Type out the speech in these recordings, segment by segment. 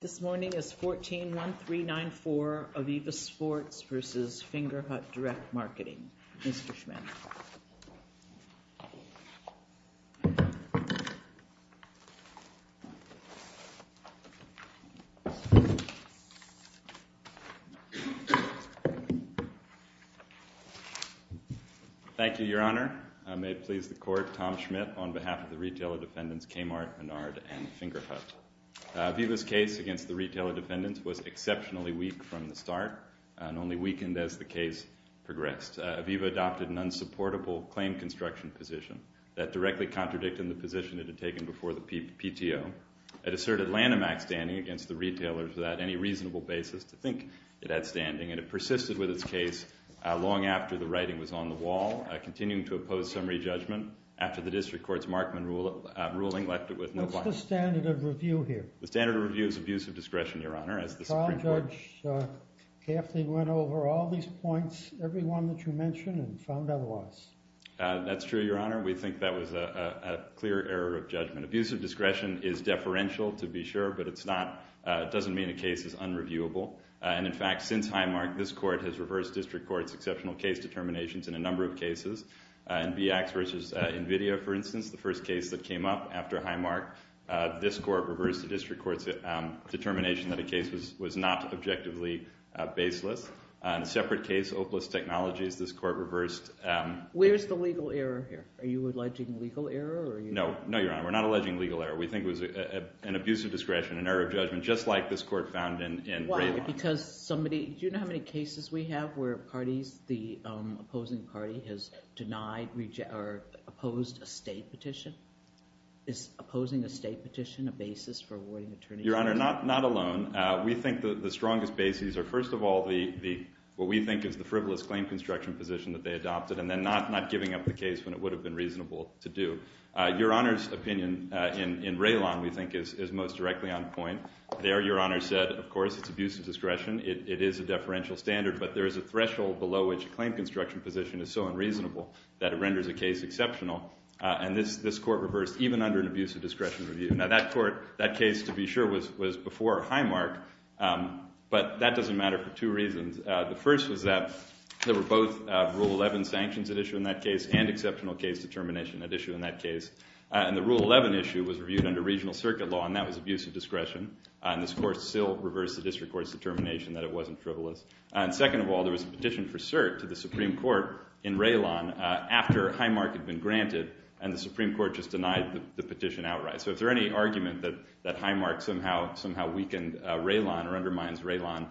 This morning is 14-1394 Aviva Sports v. Fingerhut Direct Marketing. Mr. Schmidt. Thank you, Your Honor. May it please the Court, Tom Schmidt on behalf of the Retailer Defendants Kmart, Menard, and Fingerhut. Aviva's case against the Retailer Defendants was exceptionally weak from the start and only weakened as the case progressed. Aviva adopted an unsupportable claim construction position that directly contradicted the position it had taken before the PTO. It asserted Lanham Act standing against the retailer without any reasonable basis to think it had standing, and it persisted with its case long after the writing was on the wall, continuing to oppose summary judgment after the District Court's Markman ruling left it with no claim. What's the standard of review here? The standard of review is abuse of discretion, Your Honor, as the Supreme Court— Carl Judge carefully went over all these points, every one that you mentioned, and found otherwise. That's true, Your Honor. We think that was a clear error of judgment. Abuse of discretion is deferential, to be sure, but it's not—it doesn't mean a case is unreviewable. And, in fact, since Highmark, this Court has reversed District Court's exceptional case determinations in a number of cases. In BX v. NVIDIA, for instance, the first case that came up after Highmark, this Court reversed the District Court's determination that a case was not objectively baseless. In a separate case, Opalist Technologies, this Court reversed— Where's the legal error here? Are you alleging legal error? No. No, Your Honor. We're not alleging legal error. We think it was an abuse of discretion, an error of judgment, just like this Court found in Braymont. Because somebody—do you know how many cases we have where parties, the opposing party, has denied or opposed a State petition? Is opposing a State petition a basis for awarding attorneyship? Your Honor, not alone. We think the strongest bases are, first of all, what we think is the frivolous claim construction position that they adopted, and then not giving up the case when it would have been reasonable to do. Your Honor's opinion in Raylon, we think, is most directly on point. There, Your Honor said, of course, it's abuse of discretion. It is a deferential standard, but there is a threshold below which a claim construction position is so unreasonable that it renders a case exceptional. And this Court reversed, even under an abuse of discretion review. Now, that case, to be sure, was before Highmark, but that doesn't matter for two reasons. The first was that there were both Rule 11 sanctions at issue in that case and exceptional case determination at issue in that case. And the Rule 11 issue was reviewed under regional circuit law, and that was abuse of discretion. And this Court still reversed the district court's determination that it wasn't frivolous. And second of all, there was a petition for cert to the Supreme Court in Raylon after Highmark had been granted, and the Supreme Court just denied the petition outright. So if there's any argument that Highmark somehow weakened Raylon or undermines Raylon,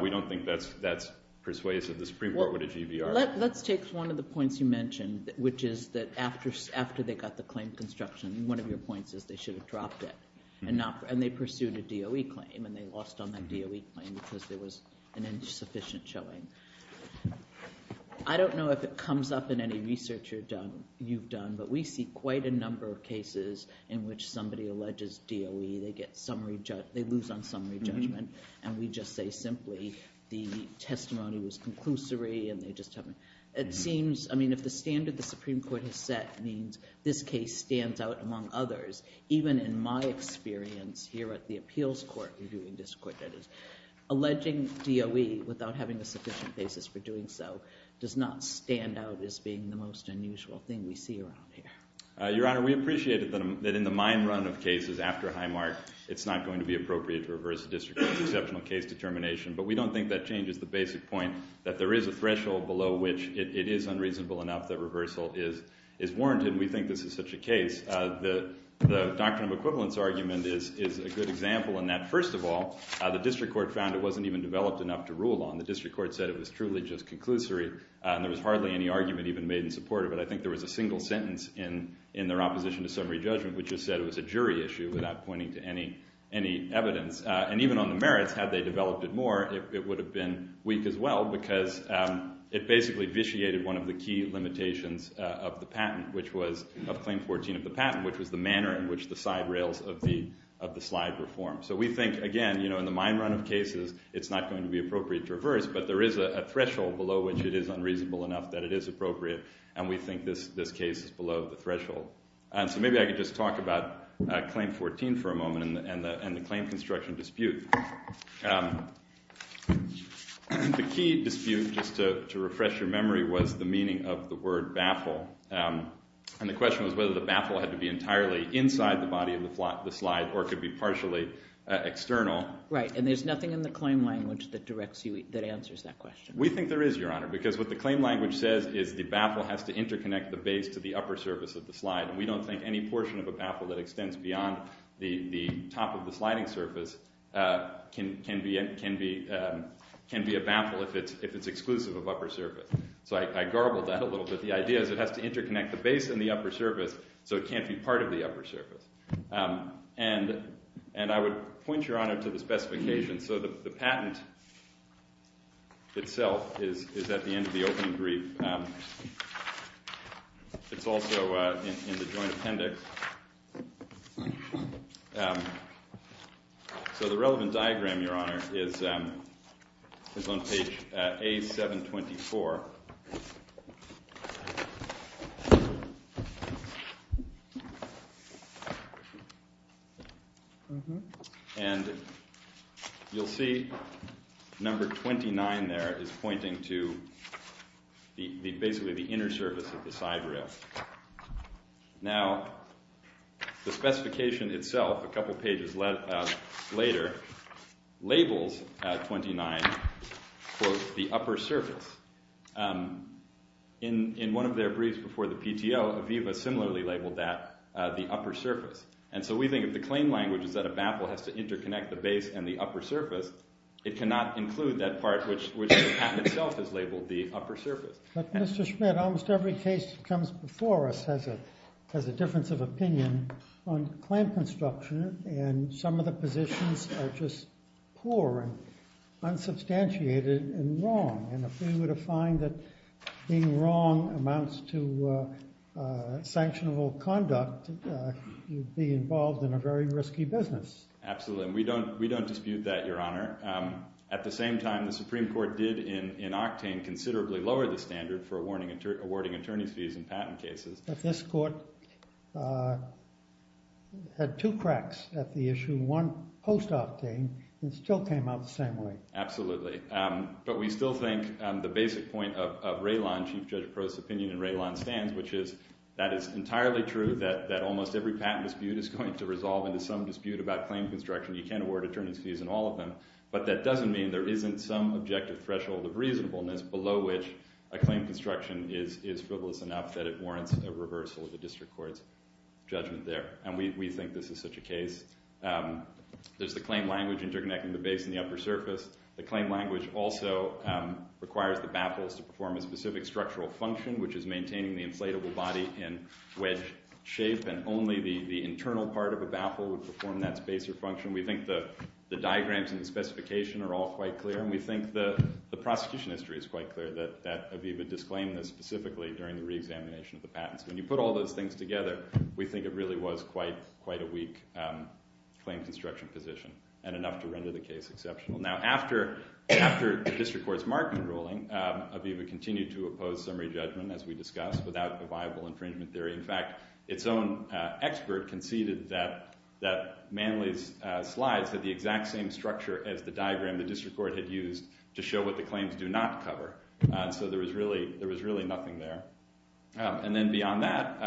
we don't think that's persuasive. The Supreme Court would agree, Your Honor. Let's take one of the points you mentioned, which is that after they got the claim construction, one of your points is they should have dropped it, and they pursued a DOE claim, and they lost on that DOE claim because there was an insufficient showing. I don't know if it comes up in any research you've done, but we see quite a number of cases in which somebody alleges DOE, they lose on summary judgment, and we just say simply the testimony was conclusory and they just haven't. It seems, I mean, if the standard the Supreme Court has set means this case stands out among others, even in my experience here at the Appeals Court reviewing district court, that is, alleging DOE without having a sufficient basis for doing so does not stand out as being the most unusual thing we see around here. Your Honor, we appreciate that in the mine run of cases after Highmark, it's not going to be appropriate to reverse the district court's exceptional case determination, but we don't think that changes the basic point that there is a threshold below which it is unreasonable enough that reversal is warranted, and we think this is such a case. The doctrine of equivalence argument is a good example in that, first of all, the district court found it wasn't even developed enough to rule on. The district court said it was truly just conclusory, and there was hardly any argument even made in support of it. I think there was a single sentence in their opposition to summary judgment which just said it was a jury issue without pointing to any evidence. And even on the merits, had they developed it more, it would have been weak as well because it basically vitiated one of the key limitations of the patent, which was of Claim 14 of the patent, which was the manner in which the side rails of the slide were formed. So we think, again, in the mine run of cases, it's not going to be appropriate to reverse, but there is a threshold below which it is unreasonable enough that it is appropriate, and we think this case is below the threshold. So maybe I could just talk about Claim 14 for a moment and the claim construction dispute. The key dispute, just to refresh your memory, was the meaning of the word baffle, and the question was whether the baffle had to be entirely inside the body of the slide or it could be partially external. Right, and there's nothing in the claim language that directs you, that answers that question. We think there is, Your Honor, because what the claim language says is the baffle has to interconnect the base to the upper surface of the slide. We don't think any portion of a baffle that extends beyond the top of the sliding surface can be a baffle if it's exclusive of upper surface. So I garbled that a little bit. The idea is it has to interconnect the base and the upper surface, so it can't be part of the upper surface. And I would point, Your Honor, to the specifications. So the patent itself is at the end of the opening brief. It's also in the joint appendix. So the relevant diagram, Your Honor, is on page A724. And you'll see number 29 there is pointing to basically the inner surface of the side rail. Now, the specification itself, a couple pages later, labels 29, quote, the upper surface. In one of their briefs before the PTO, Aviva similarly labeled that the upper surface. And so we think if the claim language is that a baffle has to interconnect the base and the upper surface, it cannot include that part which the patent itself has labeled the upper surface. But Mr. Schmidt, almost every case that comes before us has a difference of opinion on claim construction, and some of the positions are just poor and unsubstantiated and wrong. And if we were to find that being wrong amounts to sanctionable conduct, you'd be involved in a very risky business. Absolutely. And we don't dispute that, Your Honor. At the same time, the Supreme Court did in Octane considerably lower the standard for awarding attorney's fees in patent cases. But this court had two cracks at the issue, one post-Octane, and it still came out the same way. Absolutely. But we still think the basic point of Raylon, Chief Judge Pro's opinion in Raylon, stands, which is that it's entirely true that almost every patent dispute is going to resolve into some dispute about claim construction. You can't award attorney's fees in all of them, but that doesn't mean there isn't some objective threshold of reasonableness below which a claim construction is frivolous enough that it warrants a reversal of the district court's judgment there. And we think this is such a case. There's the claim language interconnecting the base and the upper surface. The claim language also requires the baffles to perform a specific structural function, which is maintaining the inflatable body in wedge shape, and only the internal part of a baffle would perform that space or function. We think the diagrams and the specification are all quite clear, and we think the prosecution history is quite clear that Aviva disclaimed this specifically during the reexamination of the patents. When you put all those things together, we think it really was quite a weak claim construction position, and enough to render the case exceptional. Now, after the district court's Markman ruling, Aviva continued to oppose summary judgment, as we discussed, without a viable infringement theory. In fact, its own expert conceded that Manley's slides had the exact same structure as the diagram the district court had used to show what the claims do not cover, so there was really nothing there. And then beyond that,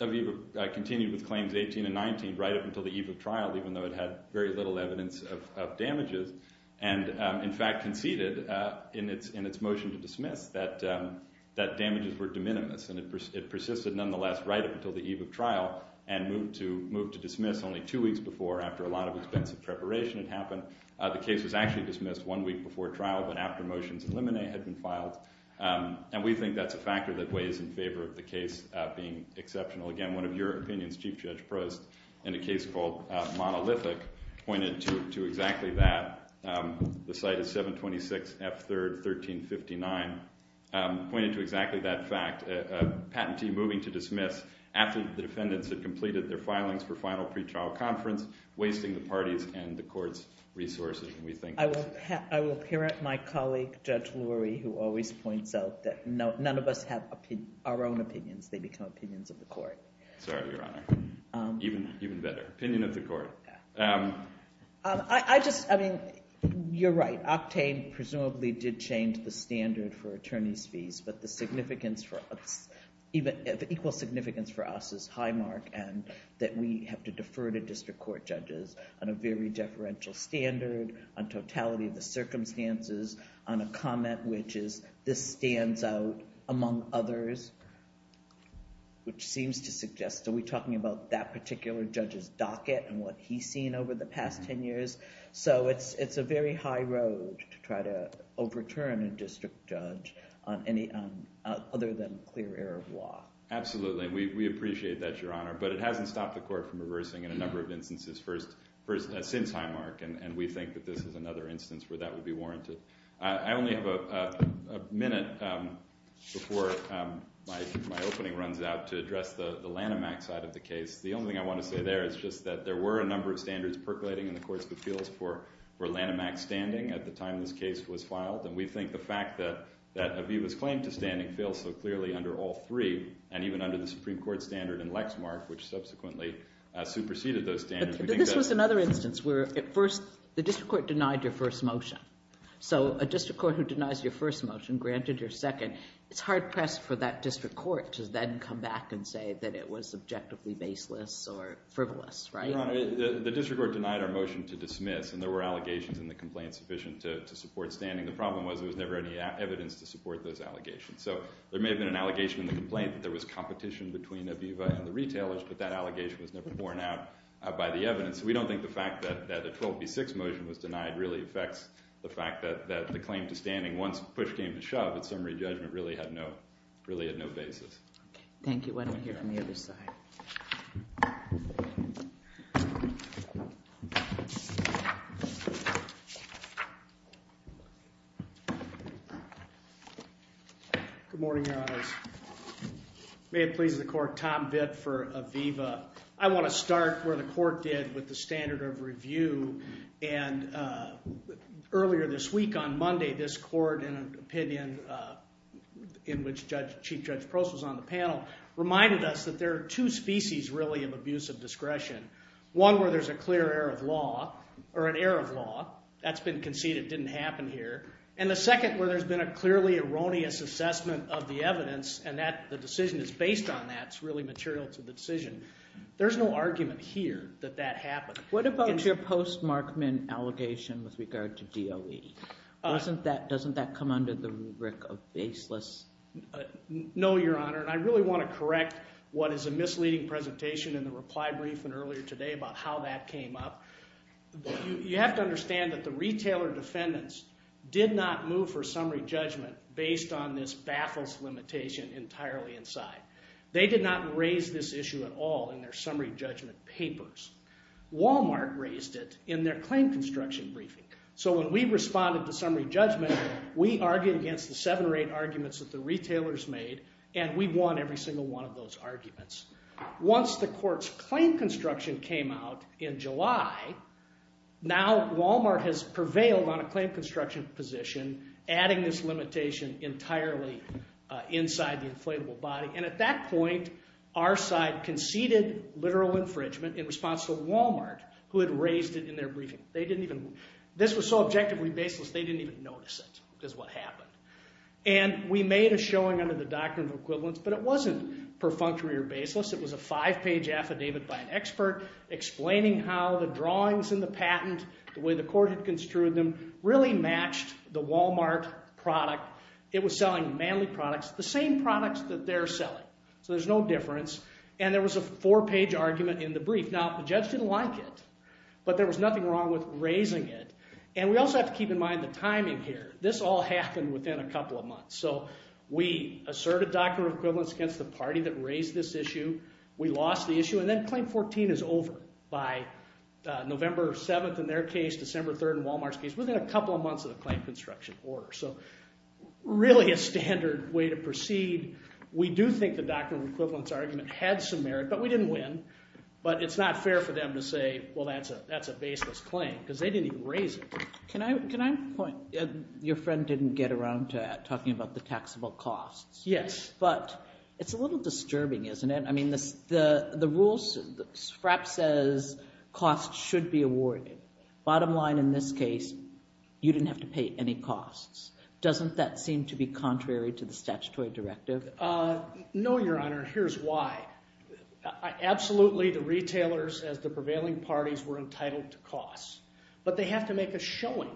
Aviva continued with claims 18 and 19 right up until the eve of trial, even though it had very little evidence of damages, and in fact conceded in its motion to dismiss that damages were de minimis, and it persisted nonetheless right up until the eve of trial, and moved to dismiss only two weeks before, after a lot of expensive preparation had happened. The case was actually dismissed one week before trial, but after motions eliminate had been filed, and we think that's a factor that weighs in favor of the case being exceptional. Again, one of your opinions, Chief Judge Prost, in a case called Monolithic, pointed to exactly that. The site is 726 F. 3rd, 1359, pointed to exactly that fact, a patentee moving to dismiss after the defendants had completed their filings for final pretrial conference, wasting the party's and the court's resources. I will parrot my colleague, Judge Lurie, who always points out that none of us have our own opinions. They become opinions of the court. Sorry, Your Honor. Even better, opinion of the court. I just, I mean, you're right. Octane presumably did change the standard for attorney's fees, but the significance for us, the equal significance for us is high, Mark, and that we have to defer to district court judges on a very deferential standard, on totality of the circumstances, on a comment which is this stands out among others, which seems to suggest, are we talking about that particular judge's docket and what he's seen over the past 10 years? So it's a very high road to try to overturn a district judge on any other than clear error of law. Absolutely, and we appreciate that, Your Honor, but it hasn't stopped the court from reversing in a number of instances since high, Mark, and we think that this is another instance where that would be warranted. I only have a minute before my opening runs out to address the Lanham Act side of the case. The only thing I want to say there is just that there were a number of standards percolating in the courts' appeals for Lanham Act standing at the time this case was filed, and we think the fact that Aviva's claim to standing feels so clearly under all three and even under the Supreme Court standard in Lexmark, which subsequently superseded those standards. But this was another instance where at first the district court denied your first motion. So a district court who denies your first motion, granted your second, it's hard-pressed for that district court to then come back and say that it was objectively baseless or frivolous, right? Your Honor, the district court denied our motion to dismiss, and there were allegations in the complaint sufficient to support standing. The problem was there was never any evidence to support those allegations. So there may have been an allegation in the complaint that there was competition between Aviva and the retailers, but that allegation was never borne out by the evidence. We don't think the fact that the 12B6 motion was denied really affects the fact that the claim to standing, once push came to shove, its summary judgment really had no basis. Thank you. Why don't we hear from the other side? Good morning, Your Honors. May it please the Court, Tom Vitt for Aviva. I want to start where the Court did with the standard of review. And earlier this week, on Monday, this Court, in an opinion in which Chief Judge Prost was on the panel, reminded us that there are two species, really, of abuse of discretion. One where there's a clear error of law, or an error of law. That's been conceded didn't happen here. And the second where there's been a clearly erroneous assessment of the evidence, and the decision is based on that, it's really material to the decision. There's no argument here that that happened. What about your post-Markman allegation with regard to DOE? Doesn't that come under the rubric of baseless? No, Your Honor. And I really want to correct what is a misleading presentation in the reply briefing earlier today about how that came up. You have to understand that the retailer defendants did not move for summary judgment based on this baffles limitation entirely inside. They did not raise this issue at all in their summary judgment papers. Walmart raised it in their claim construction briefing. So when we responded to summary judgment, we argued against the seven or eight arguments that the retailers made, and we won every single one of those arguments. Once the court's claim construction came out in July, now Walmart has prevailed on a claim construction position, adding this limitation entirely inside the inflatable body. And at that point, our side conceded literal infringement in response to Walmart, who had raised it in their briefing. This was so objectively baseless, they didn't even notice it is what happened. And we made a showing under the doctrine of equivalence, but it wasn't perfunctory or baseless. It was a five-page affidavit by an expert explaining how the drawings in the patent, the way the court had construed them, really matched the Walmart product. It was selling manly products, the same products that they're selling. So there's no difference. And there was a four-page argument in the brief. Now, the judge didn't like it, but there was nothing wrong with raising it. And we also have to keep in mind the timing here. This all happened within a couple of months. So we asserted doctrine of equivalence against the party that raised this issue. We lost the issue, and then Claim 14 is over by November 7th in their case, December 3rd in Walmart's case, within a couple of months of the claim construction order. So really a standard way to proceed. We do think the doctrine of equivalence argument had some merit, but we didn't win. But it's not fair for them to say, well, that's a baseless claim, because they didn't even raise it. Can I point? Your friend didn't get around to talking about the taxable costs. Yes. But it's a little disturbing, isn't it? I mean, the rules, FRAP says costs should be awarded. Bottom line in this case, you didn't have to pay any costs. Doesn't that seem to be contrary to the statutory directive? No, Your Honor. Here's why. Absolutely, the retailers, as the prevailing parties, were entitled to costs. But they have to make a showing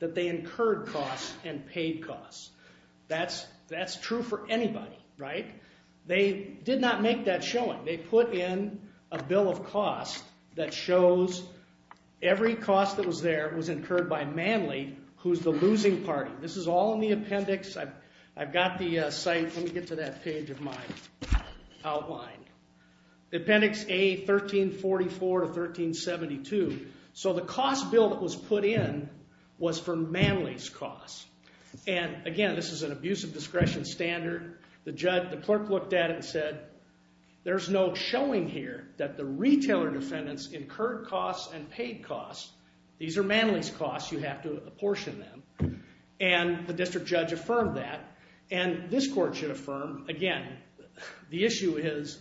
that they incurred costs and paid costs. That's true for anybody, right? They did not make that showing. They put in a bill of costs that shows every cost that was there was incurred by Manley, who's the losing party. This is all in the appendix. I've got the site. Let me get to that page of mine outlined. Appendix A, 1344 to 1372. So the cost bill that was put in was for Manley's costs. And again, this is an abuse of discretion standard. The clerk looked at it and said, there's no showing here that the retailer defendants incurred costs and paid costs. These are Manley's costs. You have to apportion them. And the district judge affirmed that. And this court should affirm, again, the issue is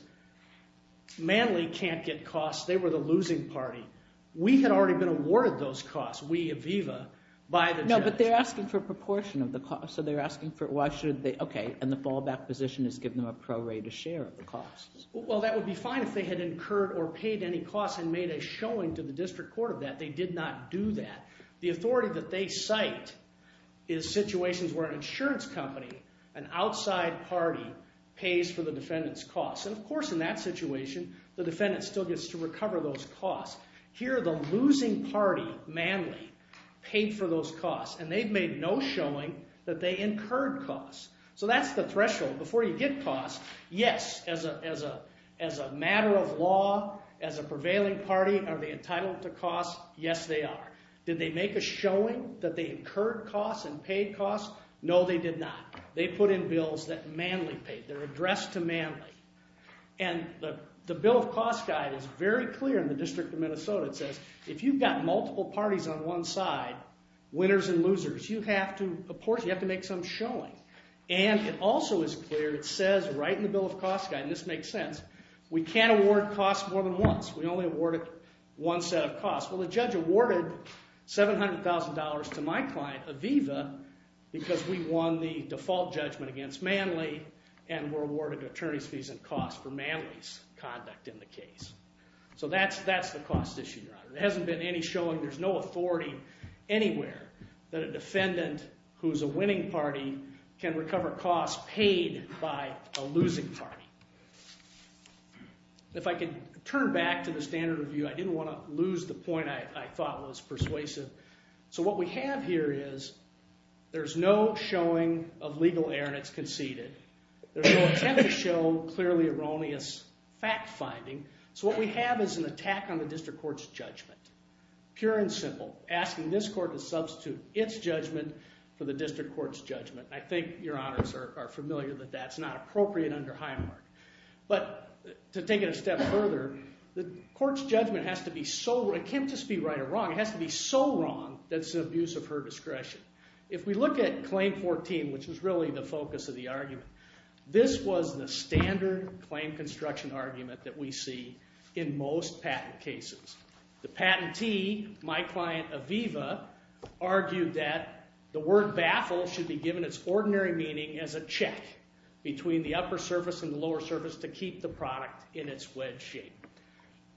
Manley can't get costs. They were the losing party. We had already been awarded those costs, we, Aviva, by the judge. No, but they're asking for a proportion of the costs. So they're asking for it. Why should they? OK, and the fallback position is give them a prorated share of the costs. Well, that would be fine if they had incurred or paid any costs and made a showing to the district court of that. They did not do that. The authority that they cite is situations where an insurance company, an outside party, pays for the defendant's costs. And of course, in that situation, the defendant still gets to recover those costs. Here, the losing party, Manley, paid for those costs. And they've made no showing that they incurred costs. So that's the threshold. Before you get costs, yes, as a matter of law, as a prevailing party, are they entitled to costs? Yes, they are. Did they make a showing that they incurred costs and paid costs? No, they did not. They put in bills that Manley paid. They're addressed to Manley. And the Bill of Costs Guide is very clear in the District of Minnesota. It says if you've got multiple parties on one side, winners and losers, you have to make some showing. And it also is clear, it says right in the Bill of Costs Guide, and this makes sense, we can't award costs more than once. We only award one set of costs. Well, the judge awarded $700,000 to my client, Aviva, because we won the default judgment against Manley and were awarded attorney's fees and costs for Manley's conduct in the case. So that's the cost issue, Your Honor. There hasn't been any showing. There's no authority anywhere that a defendant who's a winning party can recover costs paid by a losing party. If I could turn back to the standard review, I didn't want to lose the point I thought was persuasive. So what we have here is there's no showing of legal err and it's conceded. There's no attempt to show clearly erroneous fact-finding. So what we have is an attack on the district court's judgment, pure and simple, asking this court to substitute its judgment for the district court's judgment. I think Your Honors are familiar that that's not appropriate under Highmark. But to take it a step further, the court's judgment has to be so—it can't just be right or wrong—it has to be so wrong that it's an abuse of her discretion. If we look at Claim 14, which was really the focus of the argument, this was the standard claim construction argument that we see in most patent cases. The patentee, my client Aviva, argued that the word baffle should be given its ordinary meaning as a check between the upper surface and the lower surface to keep the product in its wedge shape.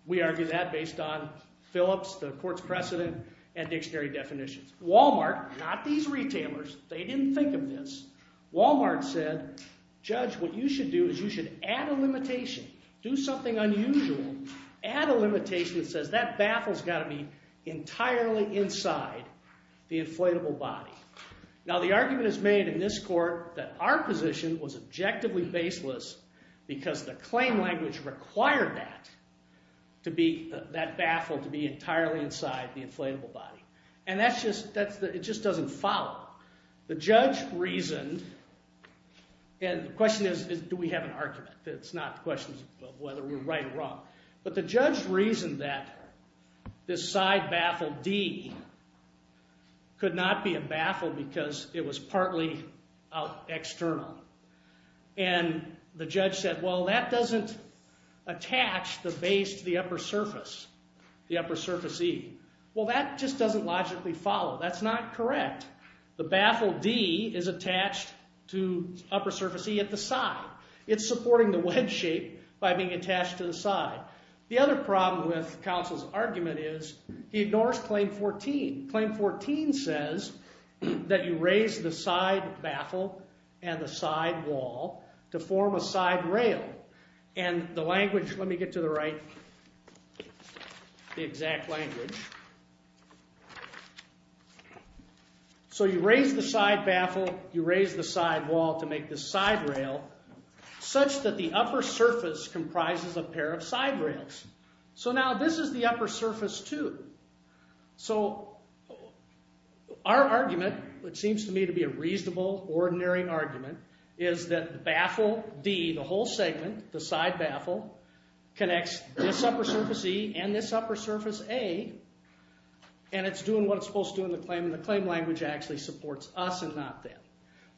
We argue that based on Phillips, the court's precedent, and dictionary definitions. Walmart—not these retailers. They didn't think of this. Walmart said, Judge, what you should do is you should add a limitation, do something unusual, add a limitation that says that baffle's got to be entirely inside the inflatable body. Now, the argument is made in this court that our position was objectively baseless because the claim language required that to be—that baffle to be entirely inside the inflatable body. And that's just—it just doesn't follow. The judge reasoned—and the question is, do we have an argument? It's not a question of whether we're right or wrong. But the judge reasoned that this side baffle D could not be a baffle because it was partly external. And the judge said, well, that doesn't attach the base to the upper surface, the upper surface E. Well, that just doesn't logically follow. That's not correct. The baffle D is attached to upper surface E at the side. It's supporting the wedge shape by being attached to the side. The other problem with counsel's argument is he ignores Claim 14. Claim 14 says that you raise the side baffle and the side wall to form a side rail. And the language—let me get to the right—the exact language. So you raise the side baffle, you raise the side wall to make this side rail such that the upper surface comprises a pair of side rails. So now this is the upper surface too. So our argument, which seems to me to be a reasonable, ordinary argument, is that baffle D, the whole segment, the side baffle, connects this upper surface E and this upper surface A, and it's doing what it's supposed to do in the claim. And the claim language actually supports us and not them.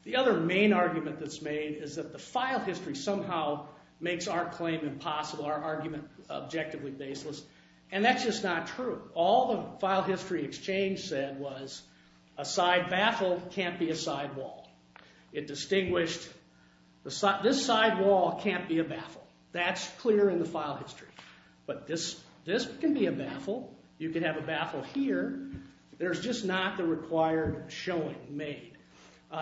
The other main argument that's made is that the file history somehow makes our claim impossible, our argument objectively baseless. And that's just not true. All the file history exchange said was a side baffle can't be a side wall. It distinguished—this side wall can't be a baffle. That's clear in the file history. But this can be a baffle. You can have a baffle here. There's just not the required showing made.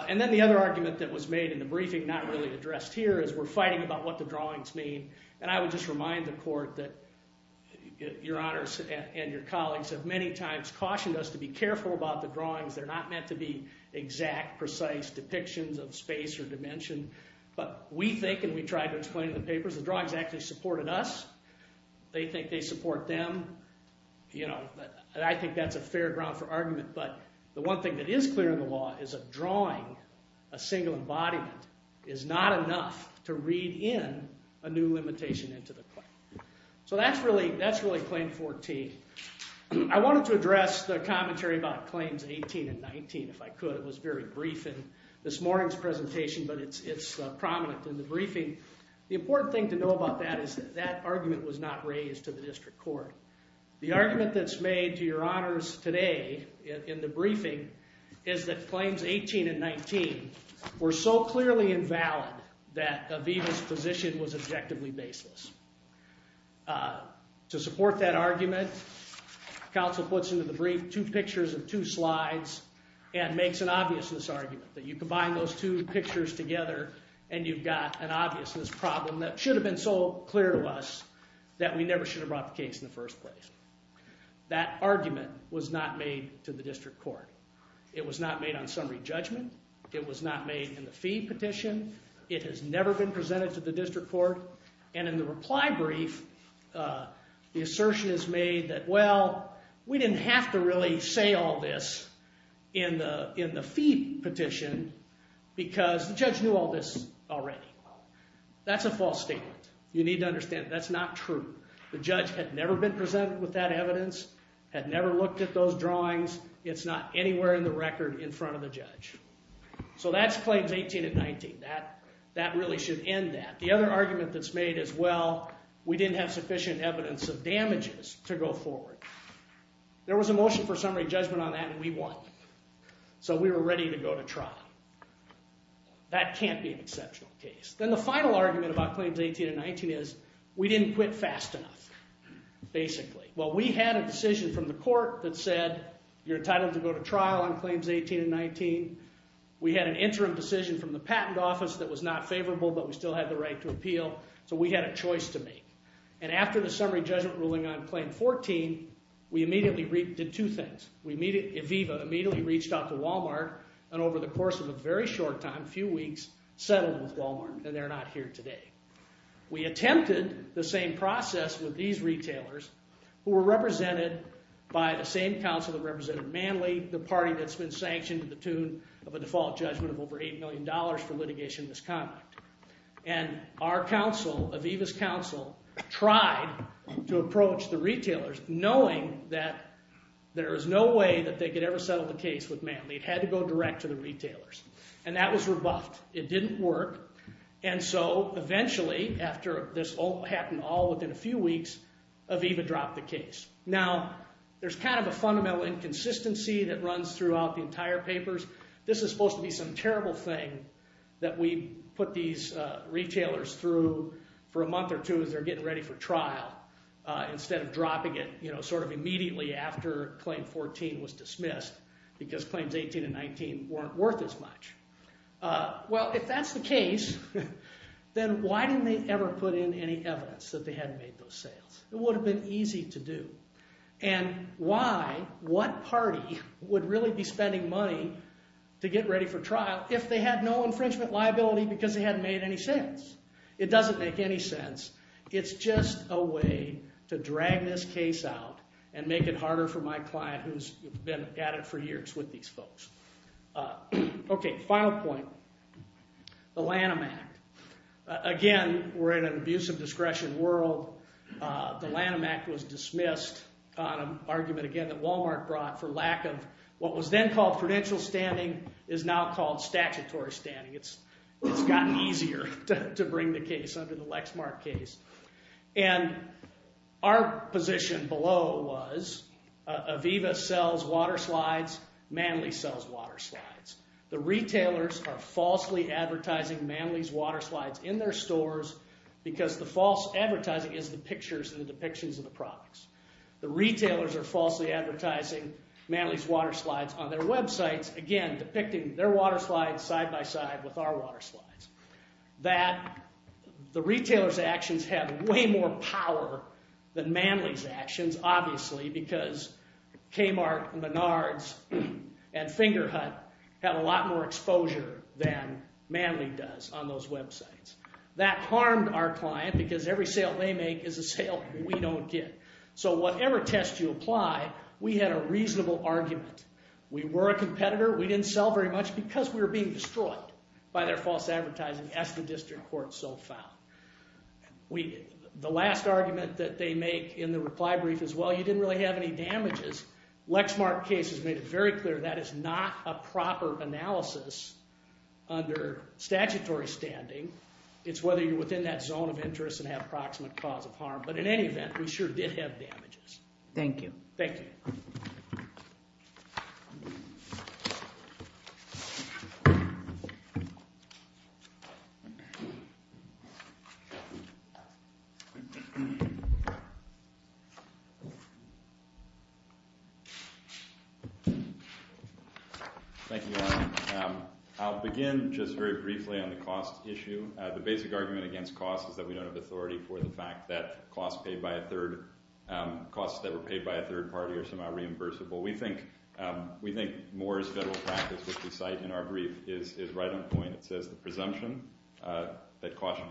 And then the other argument that was made in the briefing, not really addressed here, is we're fighting about what the drawings mean. And I would just remind the court that your honors and your colleagues have many times cautioned us to be careful about the drawings. They're not meant to be exact, precise depictions of space or dimension. But we think, and we tried to explain in the papers, the drawings actually supported us. They think they support them. But the one thing that is clear in the law is a drawing, a single embodiment, is not enough to read in a new limitation into the claim. So that's really Claim 14. I wanted to address the commentary about Claims 18 and 19, if I could. It was very brief in this morning's presentation, but it's prominent in the briefing. The important thing to know about that is that that argument was not raised to the district court. The argument that's made to your honors today in the briefing is that Claims 18 and 19 were so clearly invalid that Aviva's position was objectively baseless. To support that argument, counsel puts into the brief two pictures and two slides and makes an obviousness argument. That you combine those two pictures together and you've got an obviousness problem that should have been so clear to us that we never should have brought the case in the first place. That argument was not made to the district court. It was not made on summary judgment. It was not made in the fee petition. It has never been presented to the district court. And in the reply brief, the assertion is made that, well, we didn't have to really say all this in the fee petition because the judge knew all this already. That's a false statement. You need to understand that's not true. The judge had never been presented with that evidence, had never looked at those drawings. It's not anywhere in the record in front of the judge. So that's Claims 18 and 19. That really should end that. The other argument that's made is, well, we didn't have sufficient evidence of damages to go forward. There was a motion for summary judgment on that and we won. So we were ready to go to trial. That can't be an exceptional case. Then the final argument about Claims 18 and 19 is we didn't quit fast enough, basically. Well, we had a decision from the court that said you're entitled to go to trial on Claims 18 and 19. We had an interim decision from the patent office that was not favorable, but we still had the right to appeal. So we had a choice to make. And after the summary judgment ruling on Claim 14, we immediately did two things. Aviva immediately reached out to Walmart and over the course of a very short time, a few weeks, settled with Walmart, and they're not here today. We attempted the same process with these retailers who were represented by the same council that represented Manley, the party that's been sanctioned to the tune of a default judgment of over $8 million for litigation misconduct. And our council, Aviva's council, tried to approach the retailers knowing that there was no way that they could ever settle the case with Manley. It had to go direct to the retailers. And that was rebuffed. It didn't work. And so eventually, after this happened all within a few weeks, Aviva dropped the case. Now, there's kind of a fundamental inconsistency that runs throughout the entire papers. This is supposed to be some terrible thing that we put these retailers through for a month or two as they're getting ready for trial instead of dropping it sort of immediately after Claim 14 was dismissed because Claims 18 and 19 weren't worth as much. Well, if that's the case, then why didn't they ever put in any evidence that they hadn't made those sales? It would have been easy to do. And why, what party would really be spending money to get ready for trial if they had no infringement liability because they hadn't made any sales? It doesn't make any sense. It's just a way to drag this case out and make it harder for my client who's been at it for years with these folks. Okay, final point, the Lanham Act. Again, we're in an abuse of discretion world. The Lanham Act was dismissed on an argument, again, that Walmart brought for lack of what was then called prudential standing is now called statutory standing. It's gotten easier to bring the case under the Lexmark case. And our position below was Aviva sells water slides. Manly sells water slides. The retailers are falsely advertising Manly's water slides in their stores because the false advertising is the pictures and the depictions of the products. The retailers are falsely advertising Manly's water slides on their websites, again, depicting their water slides side by side with our water slides. That the retailers' actions have way more power than Manly's actions, obviously, because Kmart, Menards, and Fingerhut have a lot more exposure than Manly does on those websites. That harmed our client because every sale they make is a sale we don't get. So whatever test you apply, we had a reasonable argument. We were a competitor. We didn't sell very much because we were being destroyed by their false advertising, as the district court so found. The last argument that they make in the reply brief is, well, you didn't really have any damages. Lexmark case has made it very clear that is not a proper analysis under statutory standing. It's whether you're within that zone of interest and have approximate cause of harm. But in any event, we sure did have damages. Thank you. Thank you. Thank you, Alan. I'll begin just very briefly on the cost issue. The basic argument against cost is that we don't have authority for the fact that costs that were paid by a third party are somehow reimbursable. We think Moore's federal practice, which we cite in our brief, is right on point. It says the presumption that costs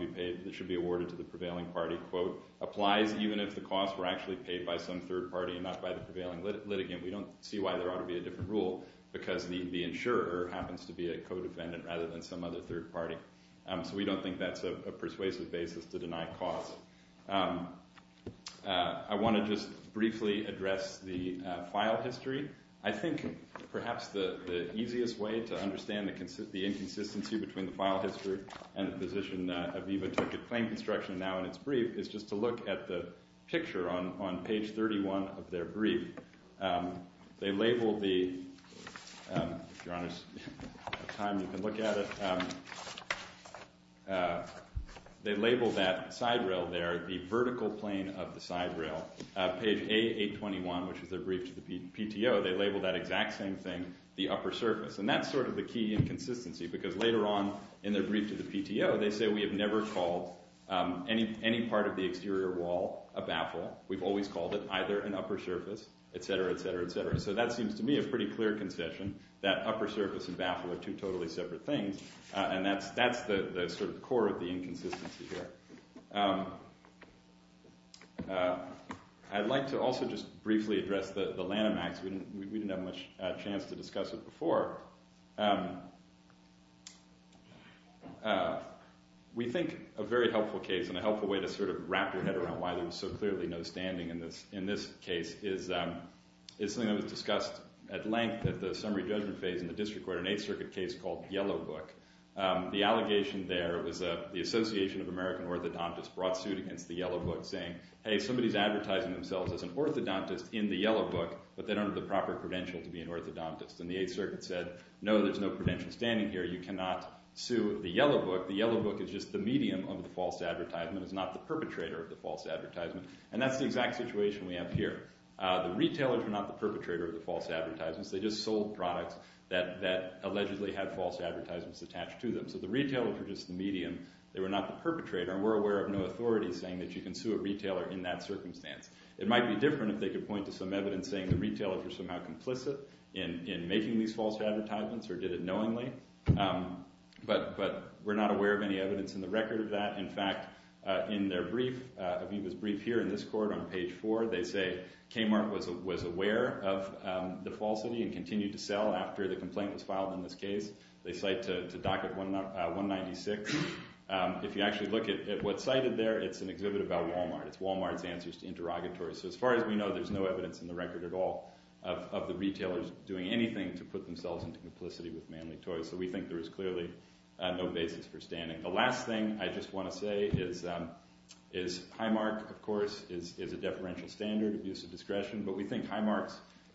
should be awarded to the prevailing party, quote, applies even if the costs were actually paid by some third party and not by the prevailing litigant. We don't see why there ought to be a different rule because the insurer happens to be a co-defendant rather than some other third party. So we don't think that's a persuasive basis to deny costs. I want to just briefly address the file history. I think perhaps the easiest way to understand the inconsistency between the file history and the position Aviva took at claim construction now in its brief is just to look at the picture on page 31 of their brief. If you're on time, you can look at it. They label that side rail there, the vertical plane of the side rail. Page A821, which is their brief to the PTO, they label that exact same thing, the upper surface. And that's sort of the key inconsistency because later on in their brief to the PTO, they say we have never called any part of the exterior wall a baffle. We've always called it either an upper surface, etc., etc., etc. So that seems to me a pretty clear concession, that upper surface and baffle are two totally separate things. And that's the sort of core of the inconsistency here. I'd like to also just briefly address the Lanham Acts. We didn't have much chance to discuss it before. We think a very helpful case and a helpful way to sort of wrap your head around why there was so clearly no standing in this case is something that was discussed at length at the summary judgment phase in the district court, an Eighth Circuit case called Yellow Book. The allegation there was the Association of American Orthodontists brought suit against the Yellow Book saying, hey, somebody's advertising themselves as an orthodontist in the Yellow Book, but they don't have the proper credential to be an orthodontist. And the Eighth Circuit said, no, there's no credential standing here. You cannot sue the Yellow Book. The Yellow Book is just the medium of the false advertisement. It's not the perpetrator of the false advertisement. And that's the exact situation we have here. The retailers were not the perpetrator of the false advertisements. They just sold products that allegedly had false advertisements attached to them. So the retailers were just the medium. They were not the perpetrator. And we're aware of no authorities saying that you can sue a retailer in that circumstance. It might be different if they could point to some evidence saying the retailers were somehow complicit in making these false advertisements or did it knowingly. But we're not aware of any evidence in the record of that. In fact, in their brief, Aviva's brief here in this court on page four, they say Kmart was aware of the falsity and continued to sell after the complaint was filed in this case. They cite to docket 196. If you actually look at what's cited there, it's an exhibit about Walmart. It's Walmart's answers to interrogatories. So as far as we know, there's no evidence in the record at all of the retailers doing anything to put themselves into complicity with Manly Toys. So we think there is clearly no basis for standing. The last thing I just want to say is Highmark, of course, is a deferential standard, abuse of discretion. But we think Highmark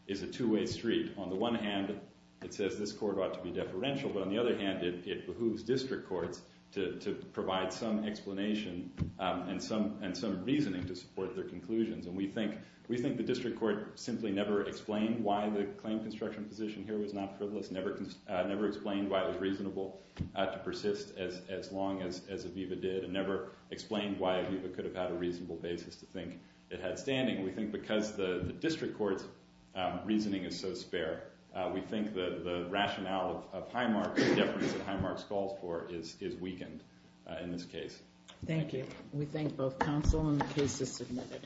is a two-way street. On the one hand, it says this court ought to be deferential. But on the other hand, it behooves district courts to provide some explanation and some reasoning to support their conclusions. And we think the district court simply never explained why the claim construction position here was not frivolous, never explained why it was reasonable to persist as long as Aviva did, and never explained why Aviva could have had a reasonable basis to think it had standing. We think because the district court's reasoning is so spare, we think the rationale of Highmark, the deference that Highmark calls for, is weakened in this case. Thank you. We thank both counsel and the cases submitted.